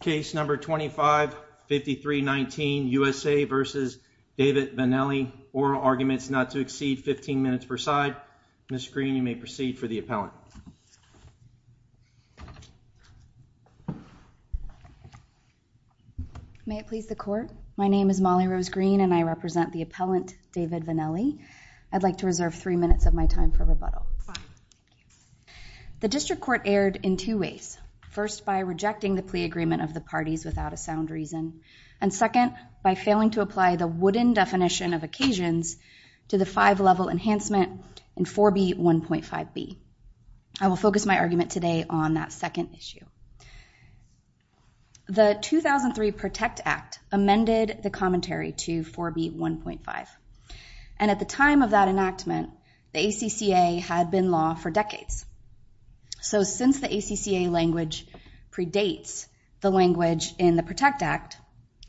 case number 255319 USA versus David Vannelli oral arguments not to exceed 15 minutes per side. Ms. Green you may proceed for the appellant. May it please the court, my name is Molly Rose Green and I represent the appellant David Vannelli. I'd like to reserve three minutes of my time for rebuttal. The district court erred in two ways. First by rejecting the agreement of the parties without a sound reason and second by failing to apply the wooden definition of occasions to the five-level enhancement in 4b 1.5b. I will focus my argument today on that second issue. The 2003 Protect Act amended the commentary to 4b 1.5 and at the time of that enactment the ACCA had been law for decades. So since the ACCA language predates the language in the Protect Act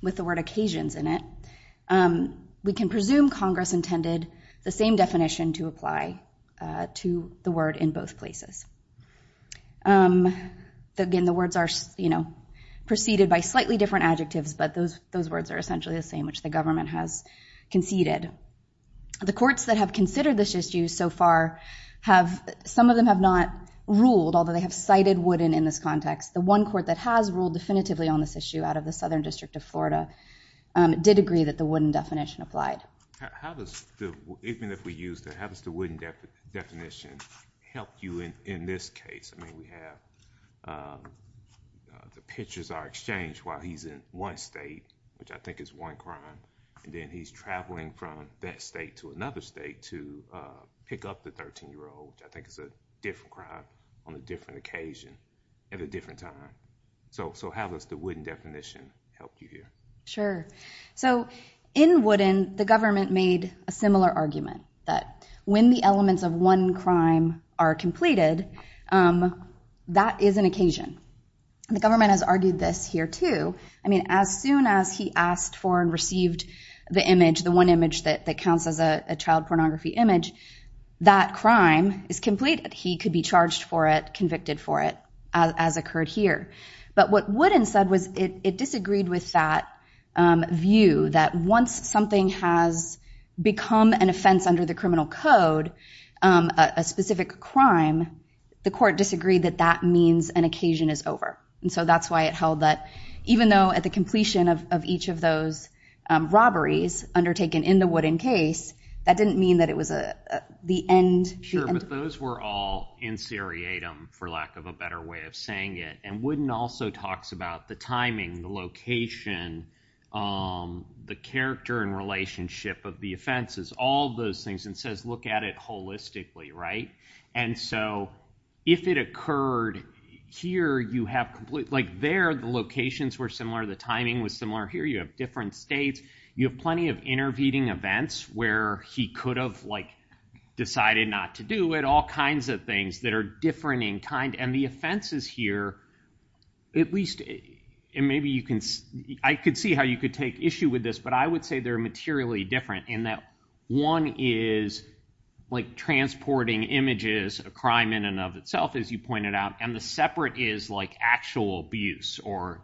with the word occasions in it, we can presume Congress intended the same definition to apply to the word in both places. Again the words are you know preceded by slightly different adjectives but those those words are essentially the same which the government has conceded. The courts that have considered this issue so far have some of them have not ruled although they have cited wooden in this context. The one court that has ruled definitively on this issue out of the Southern District of Florida did agree that the wooden definition applied. How does the wooden definition help you in this case? I mean we have the pictures are exchanged while he's in one state which I think is one crime and then he's traveling from that state to another state to pick up the 13 year old. I think it's a different crime on a different occasion at a different time. So so how does the wooden definition help you here? Sure so in wooden the government made a similar argument that when the elements of one crime are completed that is an occasion. The government has argued this here too. I mean as soon as he asked for and received the image the one image that counts as a child pornography image that crime is complete. He could be charged for it convicted for it as occurred here. But what wooden said was it disagreed with that view that once something has become an offense under the criminal code a specific crime the court disagreed that that means an occasion is over. And so that's why it held that even though at the completion of each of those robberies undertaken in the wooden case that didn't mean that it was a the end. Sure but those were all in seriatim for lack of a better way of saying it and wooden also talks about the timing the location the character and relationship of the offenses all those things and says look at it holistically right? And so if it occurred here you have complete like there the locations were similar the timing was similar here you have different states you have plenty of intervening events where he could have like decided not to do it all kinds of things that are different in kind and the offenses here at least and maybe you can I could see how you could take issue with this but I would say they're materially different in that one is like transporting images a crime in and of itself as you pointed out and the separate is like actual abuse or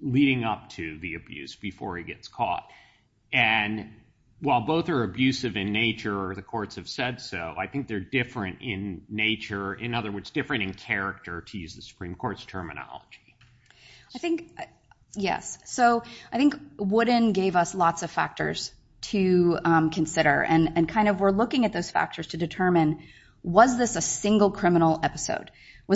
leading up to the abuse before he gets caught and while both are abusive in nature or the courts have said so I think they're different in nature in other words different in character to use the Supreme Court's terminology. I think yes so I think wooden gave us lots of factors to consider and and kind of we're looking at those factors to determine was this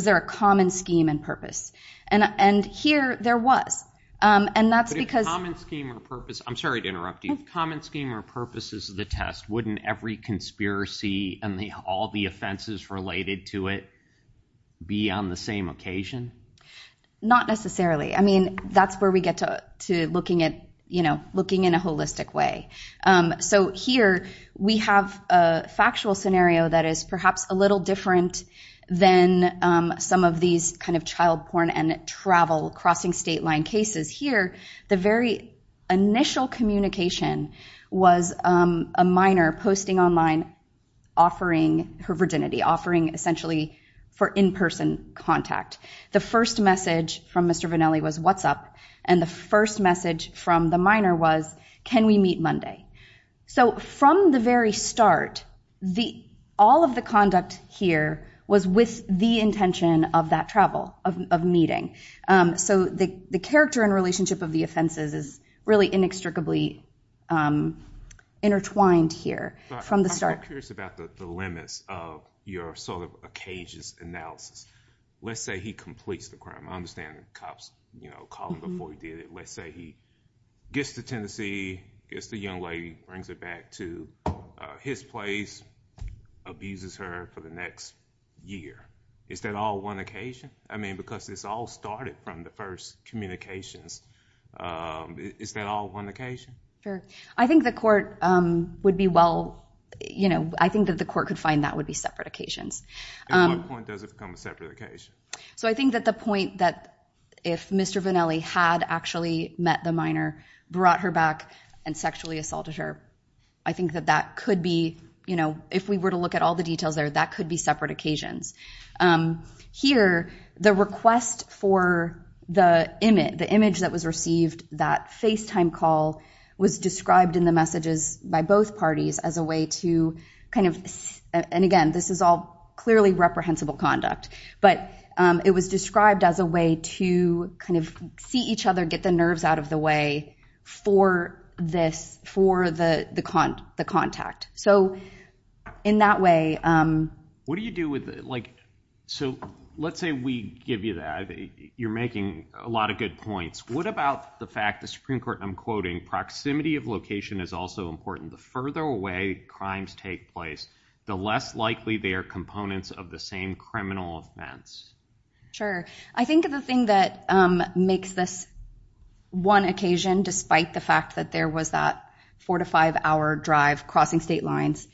a common scheme and purpose and and here there was and that's because I'm sorry to interrupt you common scheme or purposes of the test wouldn't every conspiracy and they all the offenses related to it be on the same occasion not necessarily I mean that's where we get to to looking at you know looking in a holistic way so here we have a factual scenario that is perhaps a little different than some of these kind of child porn and travel crossing state line cases here the very initial communication was a minor posting online offering her virginity offering essentially for in-person contact the first message from Mr. Vanelli was what's up and the first message from the was can we meet Monday so from the very start the all of the conduct here was with the intention of that travel of meeting so the the character and relationship of the offenses is really inextricably intertwined here from the start curious about the limits of your sort of a cage's analysis let's say he completes the crime I understand cops you know call before he did it let's say he gets to Tennessee it's the young lady brings it back to his place abuses her for the next year is that all one occasion I mean because it's all started from the first communications is that all one occasion I think the court would be well you know I think that the court could find that would be separate occasions so I think that the point that if mr. Vanelli had actually met the minor brought her back and sexually assaulted her I think that that could be you know if we were to look at all the details there that could be separate occasions here the request for the image the image that was received that face time call was described in the messages by both parties as a way to kind of and again this is all clearly reprehensible conduct but it was described as a way to kind of see each other get the nerves out of the way for this for the the con the contact so in that way what do you do with it like so let's say we give you that you're making a lot of good points what about the fact the Supreme Court I'm quoting proximity of location is also important the further away crimes take place the less likely they are components of the same criminal offense sure I think the thing that makes this one occasion despite the fact that there was that four to five hour drive crossing state lines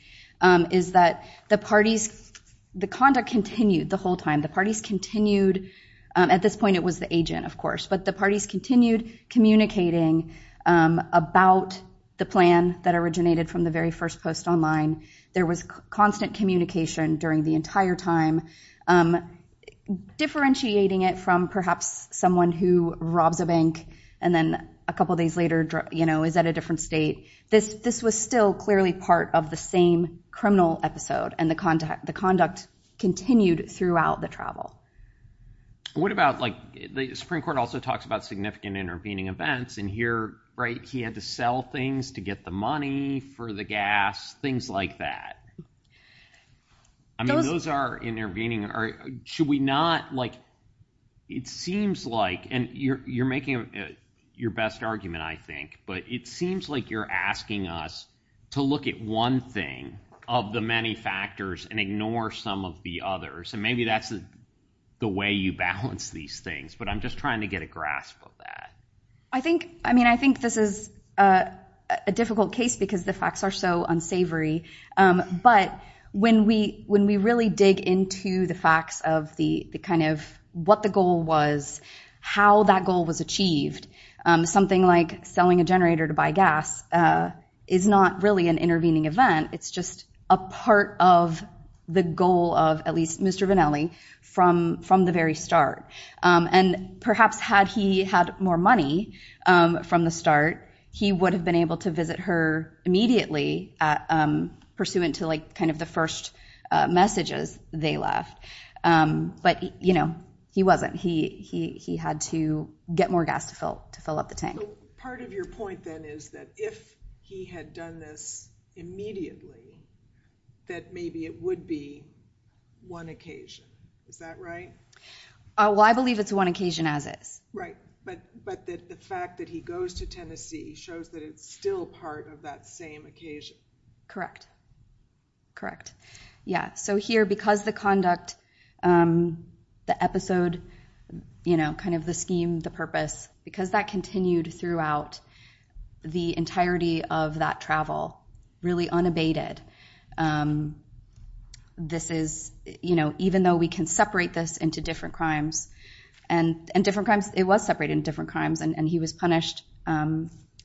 is that the parties the conduct continued the whole time the parties continued at this point it was the agent of course but the parties continued communicating about the plan that originated from the very first post online there was constant communication during the entire time differentiating it from perhaps someone who robs a bank and then a couple days later you know is that a different state this this was still clearly part of the same criminal episode and the contact the conduct continued throughout the travel what about like the Supreme Court also talks about significant intervening events and here right he had to sell things to get the money for the gas things like that I mean those are intervening or should we not like it seems like and you're making your best argument I think but it seems like you're asking us to look at one thing of the many factors and ignore some of the others and maybe that's the way you balance these things but I'm just trying to get a grasp of that I think I mean I think this is a difficult case because the facts are so unsavory but when we when we really dig into the facts of the kind of what the goal was how that goal was achieved something like selling a generator to buy gas is not really an intervening event it's just a part of the goal of at least Mr. Vanelli from the very start and perhaps had he had more money from the start he would have been able to visit her immediately pursuant to like kind of the first messages they left but you know he wasn't he he had to get more gas to fill to fill up the tank part of your point then is that if he had done this immediately that maybe it would be one occasion is that right oh well I believe it's one occasion as it's right but but the fact that he goes to Tennessee shows that it's still part of that same occasion correct correct yeah so here because the conduct the episode you know kind of the scheme the purpose because that continued throughout the entirety of that travel really unabated this is you know even though we can separate this into different crimes and and different crimes it was separated in different crimes and and he was punished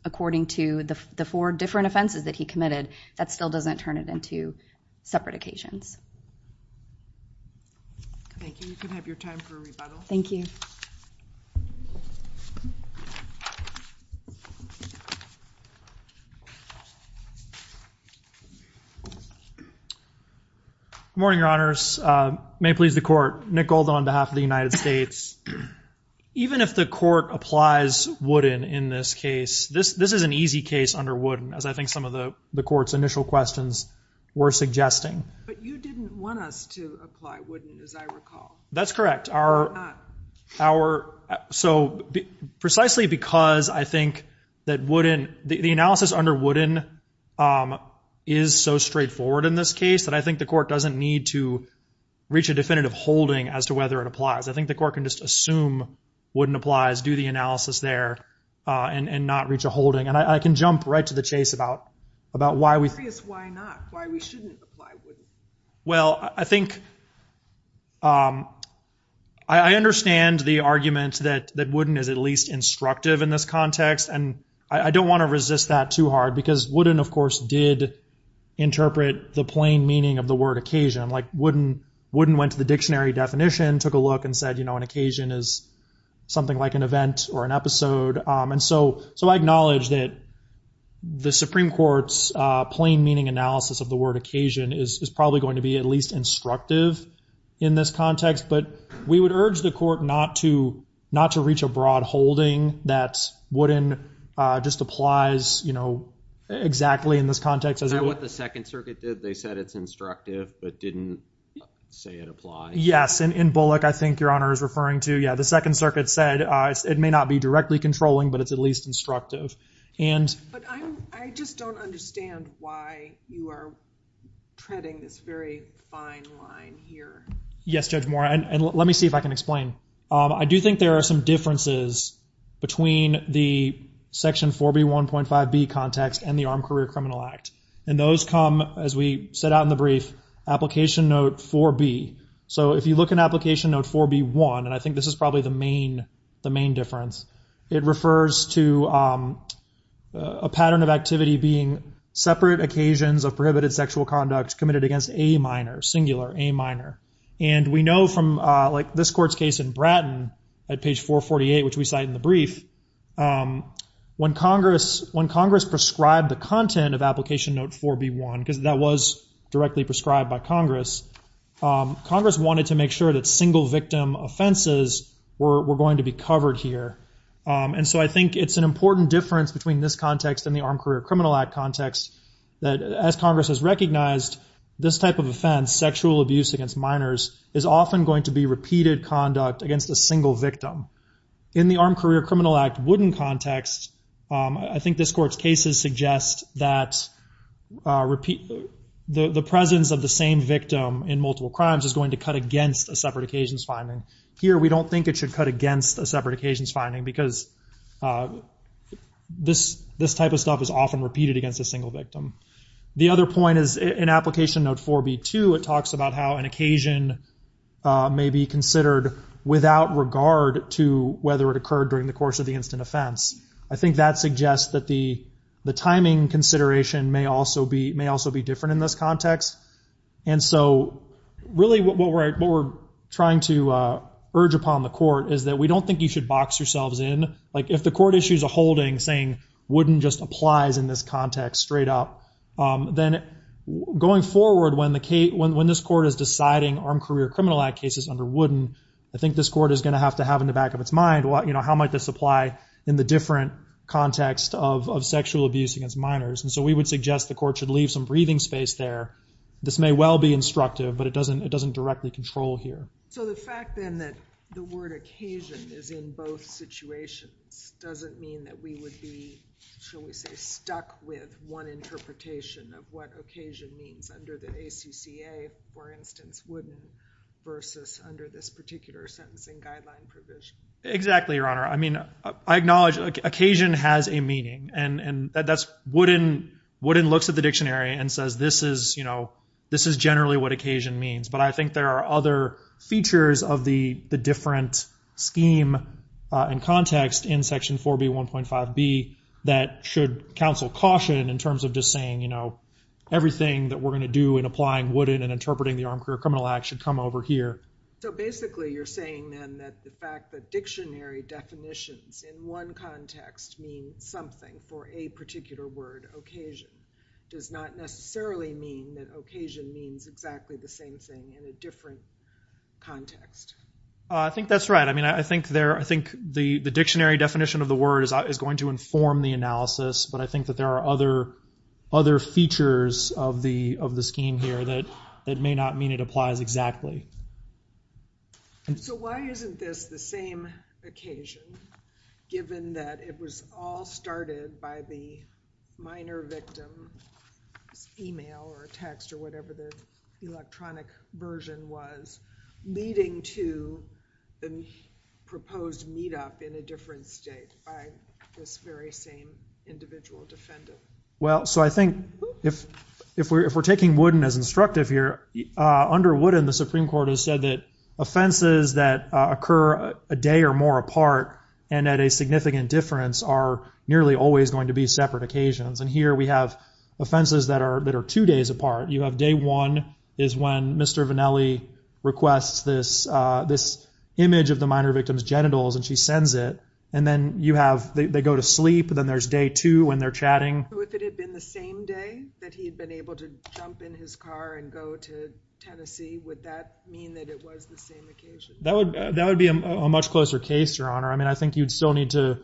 according to the four different offenses that he committed that still doesn't turn it into separate occasions thank you morning your honors may please the court Nick gold on behalf of the United States even if the court applies wooden in this case this this is an easy case under wooden as I think some of the courts initial questions were suggesting that's correct our our so precisely because I think that wouldn't the analysis under wooden is so straightforward in this case that I think the court doesn't need to reach a definitive holding as to whether it applies I think the court can just assume wouldn't applies do the analysis there and and not reach a holding and I can jump right to the chase about about why we well I think I understand the argument that that wouldn't is at least instructive in this context and I don't want to resist that too hard because wouldn't of course did interpret the plain meaning of the word occasion like wouldn't wouldn't went to the dictionary definition took a look and said you know an occasion is something like an event or an episode and so so I acknowledge that the Supreme Court's plain meaning analysis of the word occasion is probably going to be at least instructive in this context but we would urge the court not to not to reach a broad holding that's wooden just applies you know exactly in this context as I what the Second Circuit did they said it's instructive but didn't say it applied yes and in Bullock I think your honor is referring to yeah the Second be directly controlling but it's at least instructive and I just don't understand why you are treading this very fine line here yes judge more and let me see if I can explain I do think there are some differences between the section 4b 1.5 B context and the Armed Career Criminal Act and those come as we set out in the brief application note 4b so if you look at application note 4b 1 and I think this is probably the main the main difference it refers to a pattern of activity being separate occasions of prohibited sexual conduct committed against a minor singular a minor and we know from like this court's case in Bratton at page 448 which we cite in the brief when Congress when Congress prescribed the content of application note 4b 1 because that was directly prescribed by Congress Congress wanted to make sure that single victim offenses were going to be covered here and so I think it's an important difference between this context and the Armed Career Criminal Act context that as Congress has recognized this type of offense sexual abuse against minors is often going to be repeated conduct against a single victim in the Armed Career Criminal Act wouldn't context I think this court's cases suggest that repeat the the presence of the same victim in multiple crimes is going to cut against a separate occasions finding here we don't think it should cut against a separate occasions finding because this this type of stuff is often repeated against a single victim the other point is an application note 4b to it talks about how an occasion may be considered without regard to whether it occurred during the course of the instant offense I think that suggests that the the timing consideration may also be may also be different in this context and so really what we're trying to urge upon the court is that we don't think you should box yourselves in like if the court issues a holding saying wouldn't just applies in this context straight up then going forward when the Kate when this court is deciding Armed Career Criminal Act cases under wooden I think this court is going to have to have in the back of its mind what you know how might this apply in the different context of sexual abuse against minors and so we would suggest the court should leave some breathing space there this may well be instructive but it doesn't it doesn't directly control here so the fact then that the word occasion is in both situations doesn't mean that we would be shall we say stuck with one interpretation of what occasion means under the ACCA for instance wouldn't versus under this particular sentencing guideline provision exactly your honor I mean I acknowledge occasion has a meaning and and that's wooden wooden looks at the dictionary and says this is you know this is generally what occasion means but I think there are other features of the the different scheme and context in section 4b 1.5 be that should counsel caution in terms of just saying you know everything that we're going to do in applying wooden and interpreting the Armed Career Criminal Act should come over here basically you're saying that the fact that dictionary definitions in one something for a particular word occasion does not necessarily mean that occasion means exactly the same thing in a different context I think that's right I mean I think there I think the the dictionary definition of the word is I was going to inform the analysis but I think that there are other other features of the of the scheme here that it may not mean it applies exactly so why isn't this the same occasion given that it was all started by the minor victim email or text or whatever the electronic version was leading to the proposed meetup in a different state this very same individual defendant well so I think if if we're if we're taking wooden as instructive here under wooden the Supreme Court has said that offenses that occur a day or more apart and at a significant difference are nearly always going to be separate occasions and here we have offenses that are that are two days apart you have day one is when mr. Vannelli requests this this image of the minor victims genitals and she sends it and then you have they go to sleep then there's day two when they're chatting that would that would be a much closer case your honor I mean I think you'd still need to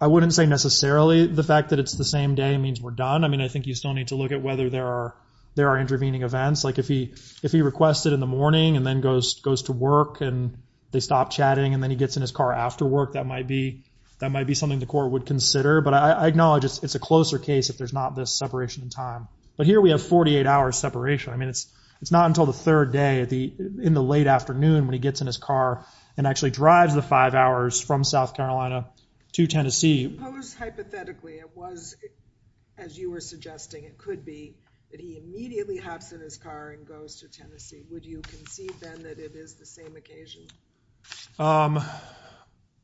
I wouldn't say necessarily the fact that it's the same day means we're done I mean I think you still need to look at whether there are there are intervening events like if he if he requested in the morning and then goes goes to work and they stop chatting and then he gets in his car after work that might be that might be something the court would consider but I acknowledge it's a closer case if there's not this separation in time but here we have 48 hours separation I mean it's it's not until the third day at the in the late afternoon when he gets in his car and actually drives the five hours from South Carolina to Tennessee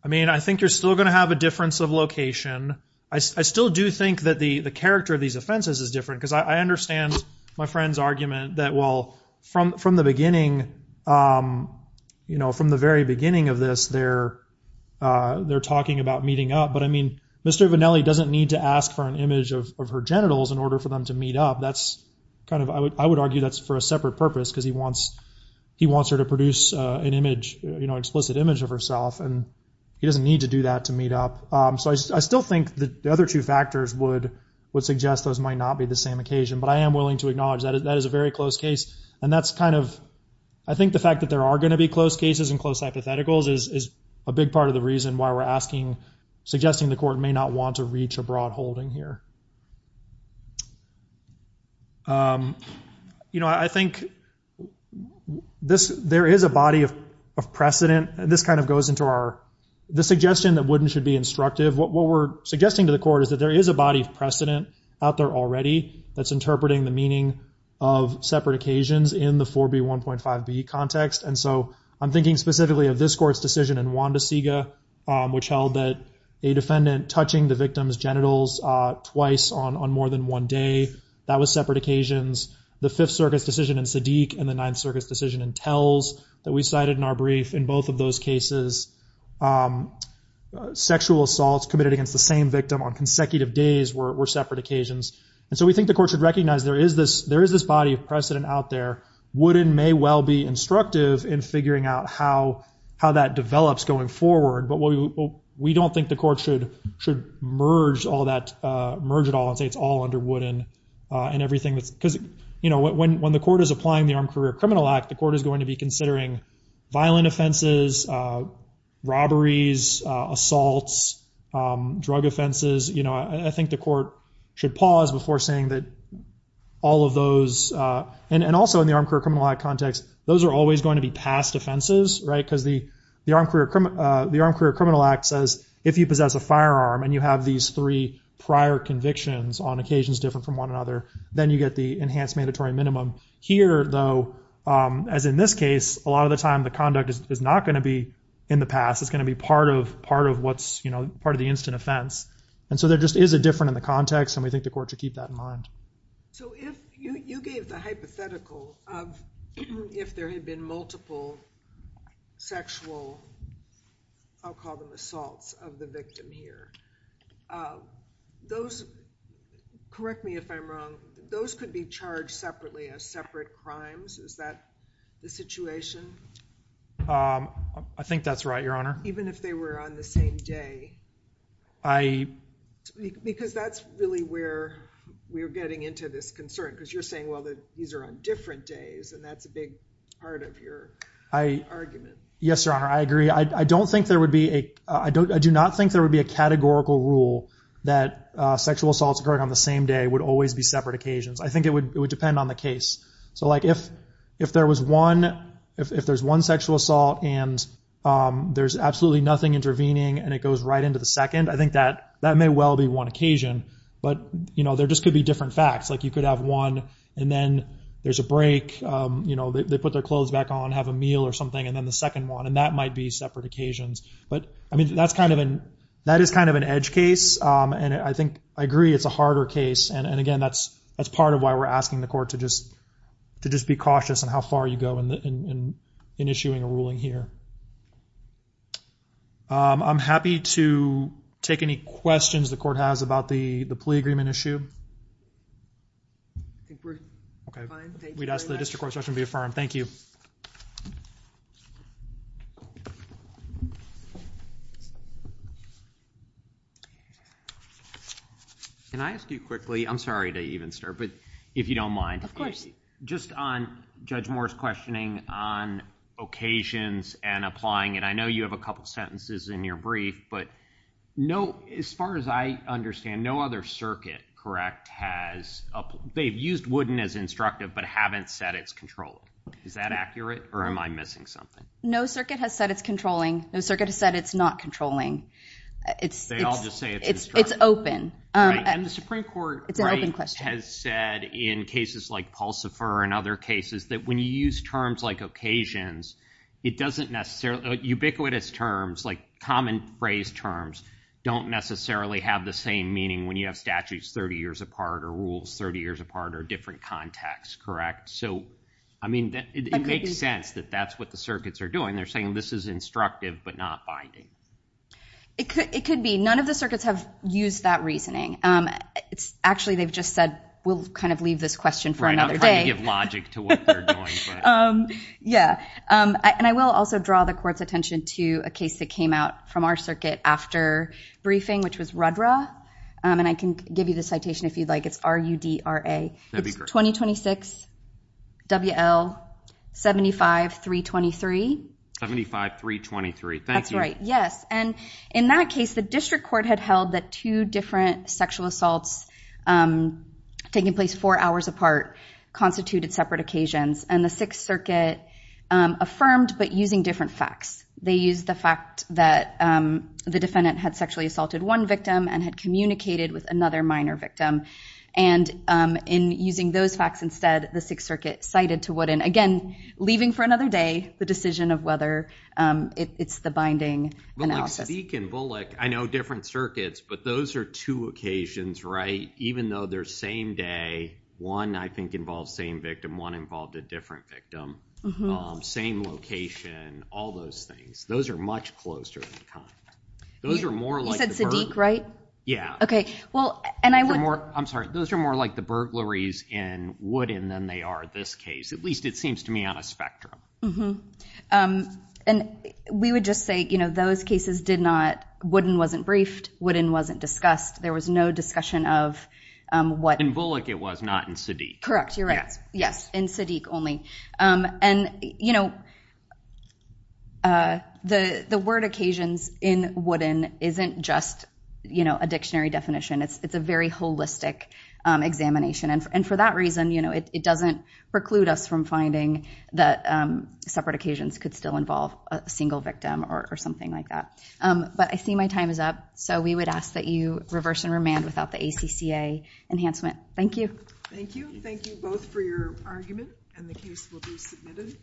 I mean I think you're still gonna have a I still do think that the the character of these offenses is different because I understand my friend's argument that well from from the beginning you know from the very beginning of this they're they're talking about meeting up but I mean mr. Vannelli doesn't need to ask for an image of her genitals in order for them to meet up that's kind of I would argue that's for a separate purpose because he wants he wants her to produce an image you know explicit image of herself and he doesn't need to do that to meet up so I still think the other two factors would would suggest those might not be the same occasion but I am willing to acknowledge that is a very close case and that's kind of I think the fact that there are going to be close cases and close hypotheticals is a big part of the reason why we're asking suggesting the court may not want to reach a broad holding here you know I think this there is a body of precedent this kind of goes into our the suggestion that wouldn't should be instructive what we're suggesting to the court is that there is a body of precedent out there already that's interpreting the meaning of separate occasions in the 4b 1.5 B context and so I'm thinking specifically of this court's decision in Juan de Siga which held that a defendant touching the victim's genitals twice on on more than one day that was separate occasions the Fifth Circus decision and Sadiq and the Ninth Circus decision and tells that we in our brief in both of those cases sexual assaults committed against the same victim on consecutive days were separate occasions and so we think the court should recognize there is this there is this body of precedent out there wooden may well be instructive in figuring out how how that develops going forward but what we don't think the court should should merge all that merge at all and say it's all under wooden and everything that's because you know when when the court is applying the Armed Career Criminal Act the court is considering violent offenses robberies assaults drug offenses you know I think the court should pause before saying that all of those and and also in the Armed Career Criminal Act context those are always going to be past offenses right because the the Armed Career Criminal the Armed Career Criminal Act says if you possess a firearm and you have these three prior convictions on occasions different from one another then you get the enhanced mandatory minimum here though as in this case a lot of the time the conduct is not going to be in the past it's going to be part of part of what's you know part of the instant offense and so there just is a different in the context and we think the court should keep that in mind. So if you gave the hypothetical of if there had been multiple sexual I'll call them assaults of the victim here those correct me if I'm wrong those could be charged separately as separate crimes is that the situation? I think that's right your honor. Even if they were on the same day? I. Because that's really where we're getting into this concern because you're saying well that these are on different days and that's a big part of your argument. Yes your honor I agree I don't think there would be a I don't I do not think that sexual assaults occurring on the same day would always be separate occasions I think it would it would depend on the case so like if if there was one if there's one sexual assault and there's absolutely nothing intervening and it goes right into the second I think that that may well be one occasion but you know there just could be different facts like you could have one and then there's a break you know they put their clothes back on have a meal or something and then the second one and that might be separate occasions but I mean that's kind of an that is kind of an edge case and I think I agree it's a harder case and and again that's that's part of why we're asking the court to just to just be cautious and how far you go in the in issuing a ruling here. I'm happy to take any questions the court has about the the case. Can I ask you quickly I'm sorry to even start but if you don't mind of course just on Judge Moore's questioning on occasions and applying and I know you have a couple sentences in your brief but no as far as I understand no other circuit correct has they've used wooden as instructive but haven't said it's controlling is that accurate or am I missing something? No circuit has said it's controlling no circuit has said it's not controlling it's it's it's open. And the Supreme Court has said in cases like Pulsifer and other cases that when you use terms like occasions it doesn't necessarily ubiquitous terms like common phrase terms don't necessarily have the same meaning when you have statutes 30 years apart or rules 30 years apart or different contexts correct so I mean that it makes sense that that's what the circuits are doing they're saying this is instructive but not binding. It could it could be none of the circuits have used that reasoning it's actually they've just said we'll kind of leave this question for another day. Yeah and I will also draw the court's attention to a case that came out from our circuit after briefing which was Rudra and I can give you the citation if you'd like it's 2026 WL 75 323. 75 323. That's right yes and in that case the district court had held that two different sexual assaults taking place four hours apart constituted separate occasions and the Sixth Circuit affirmed but using different facts they use the fact that the defendant had sexually assaulted one victim and had communicated with another minor victim and in using those facts instead the Sixth Circuit cited to what in again leaving for another day the decision of whether it's the binding. I know different circuits but those are two occasions right even though they're same day one I think involves same victim one involved a different victim same location all those things those are those are more like Sadiq right yeah okay well and I would I'm sorry those are more like the burglaries in Woodin than they are this case at least it seems to me on a spectrum mm-hmm and we would just say you know those cases did not Woodin wasn't briefed Woodin wasn't discussed there was no discussion of what in Bullock it was not in Sadiq. Correct you're right yes in Sadiq only and you know the the word occasions in Woodin isn't just you know a dictionary definition it's it's a very holistic examination and for that reason you know it doesn't preclude us from finding that separate occasions could still involve a single victim or something like that but I see my time is up so we would ask that you reverse and remand without the ACCA enhancement. Thank you. Thank you. Thank you both for your argument and the case will be submitted.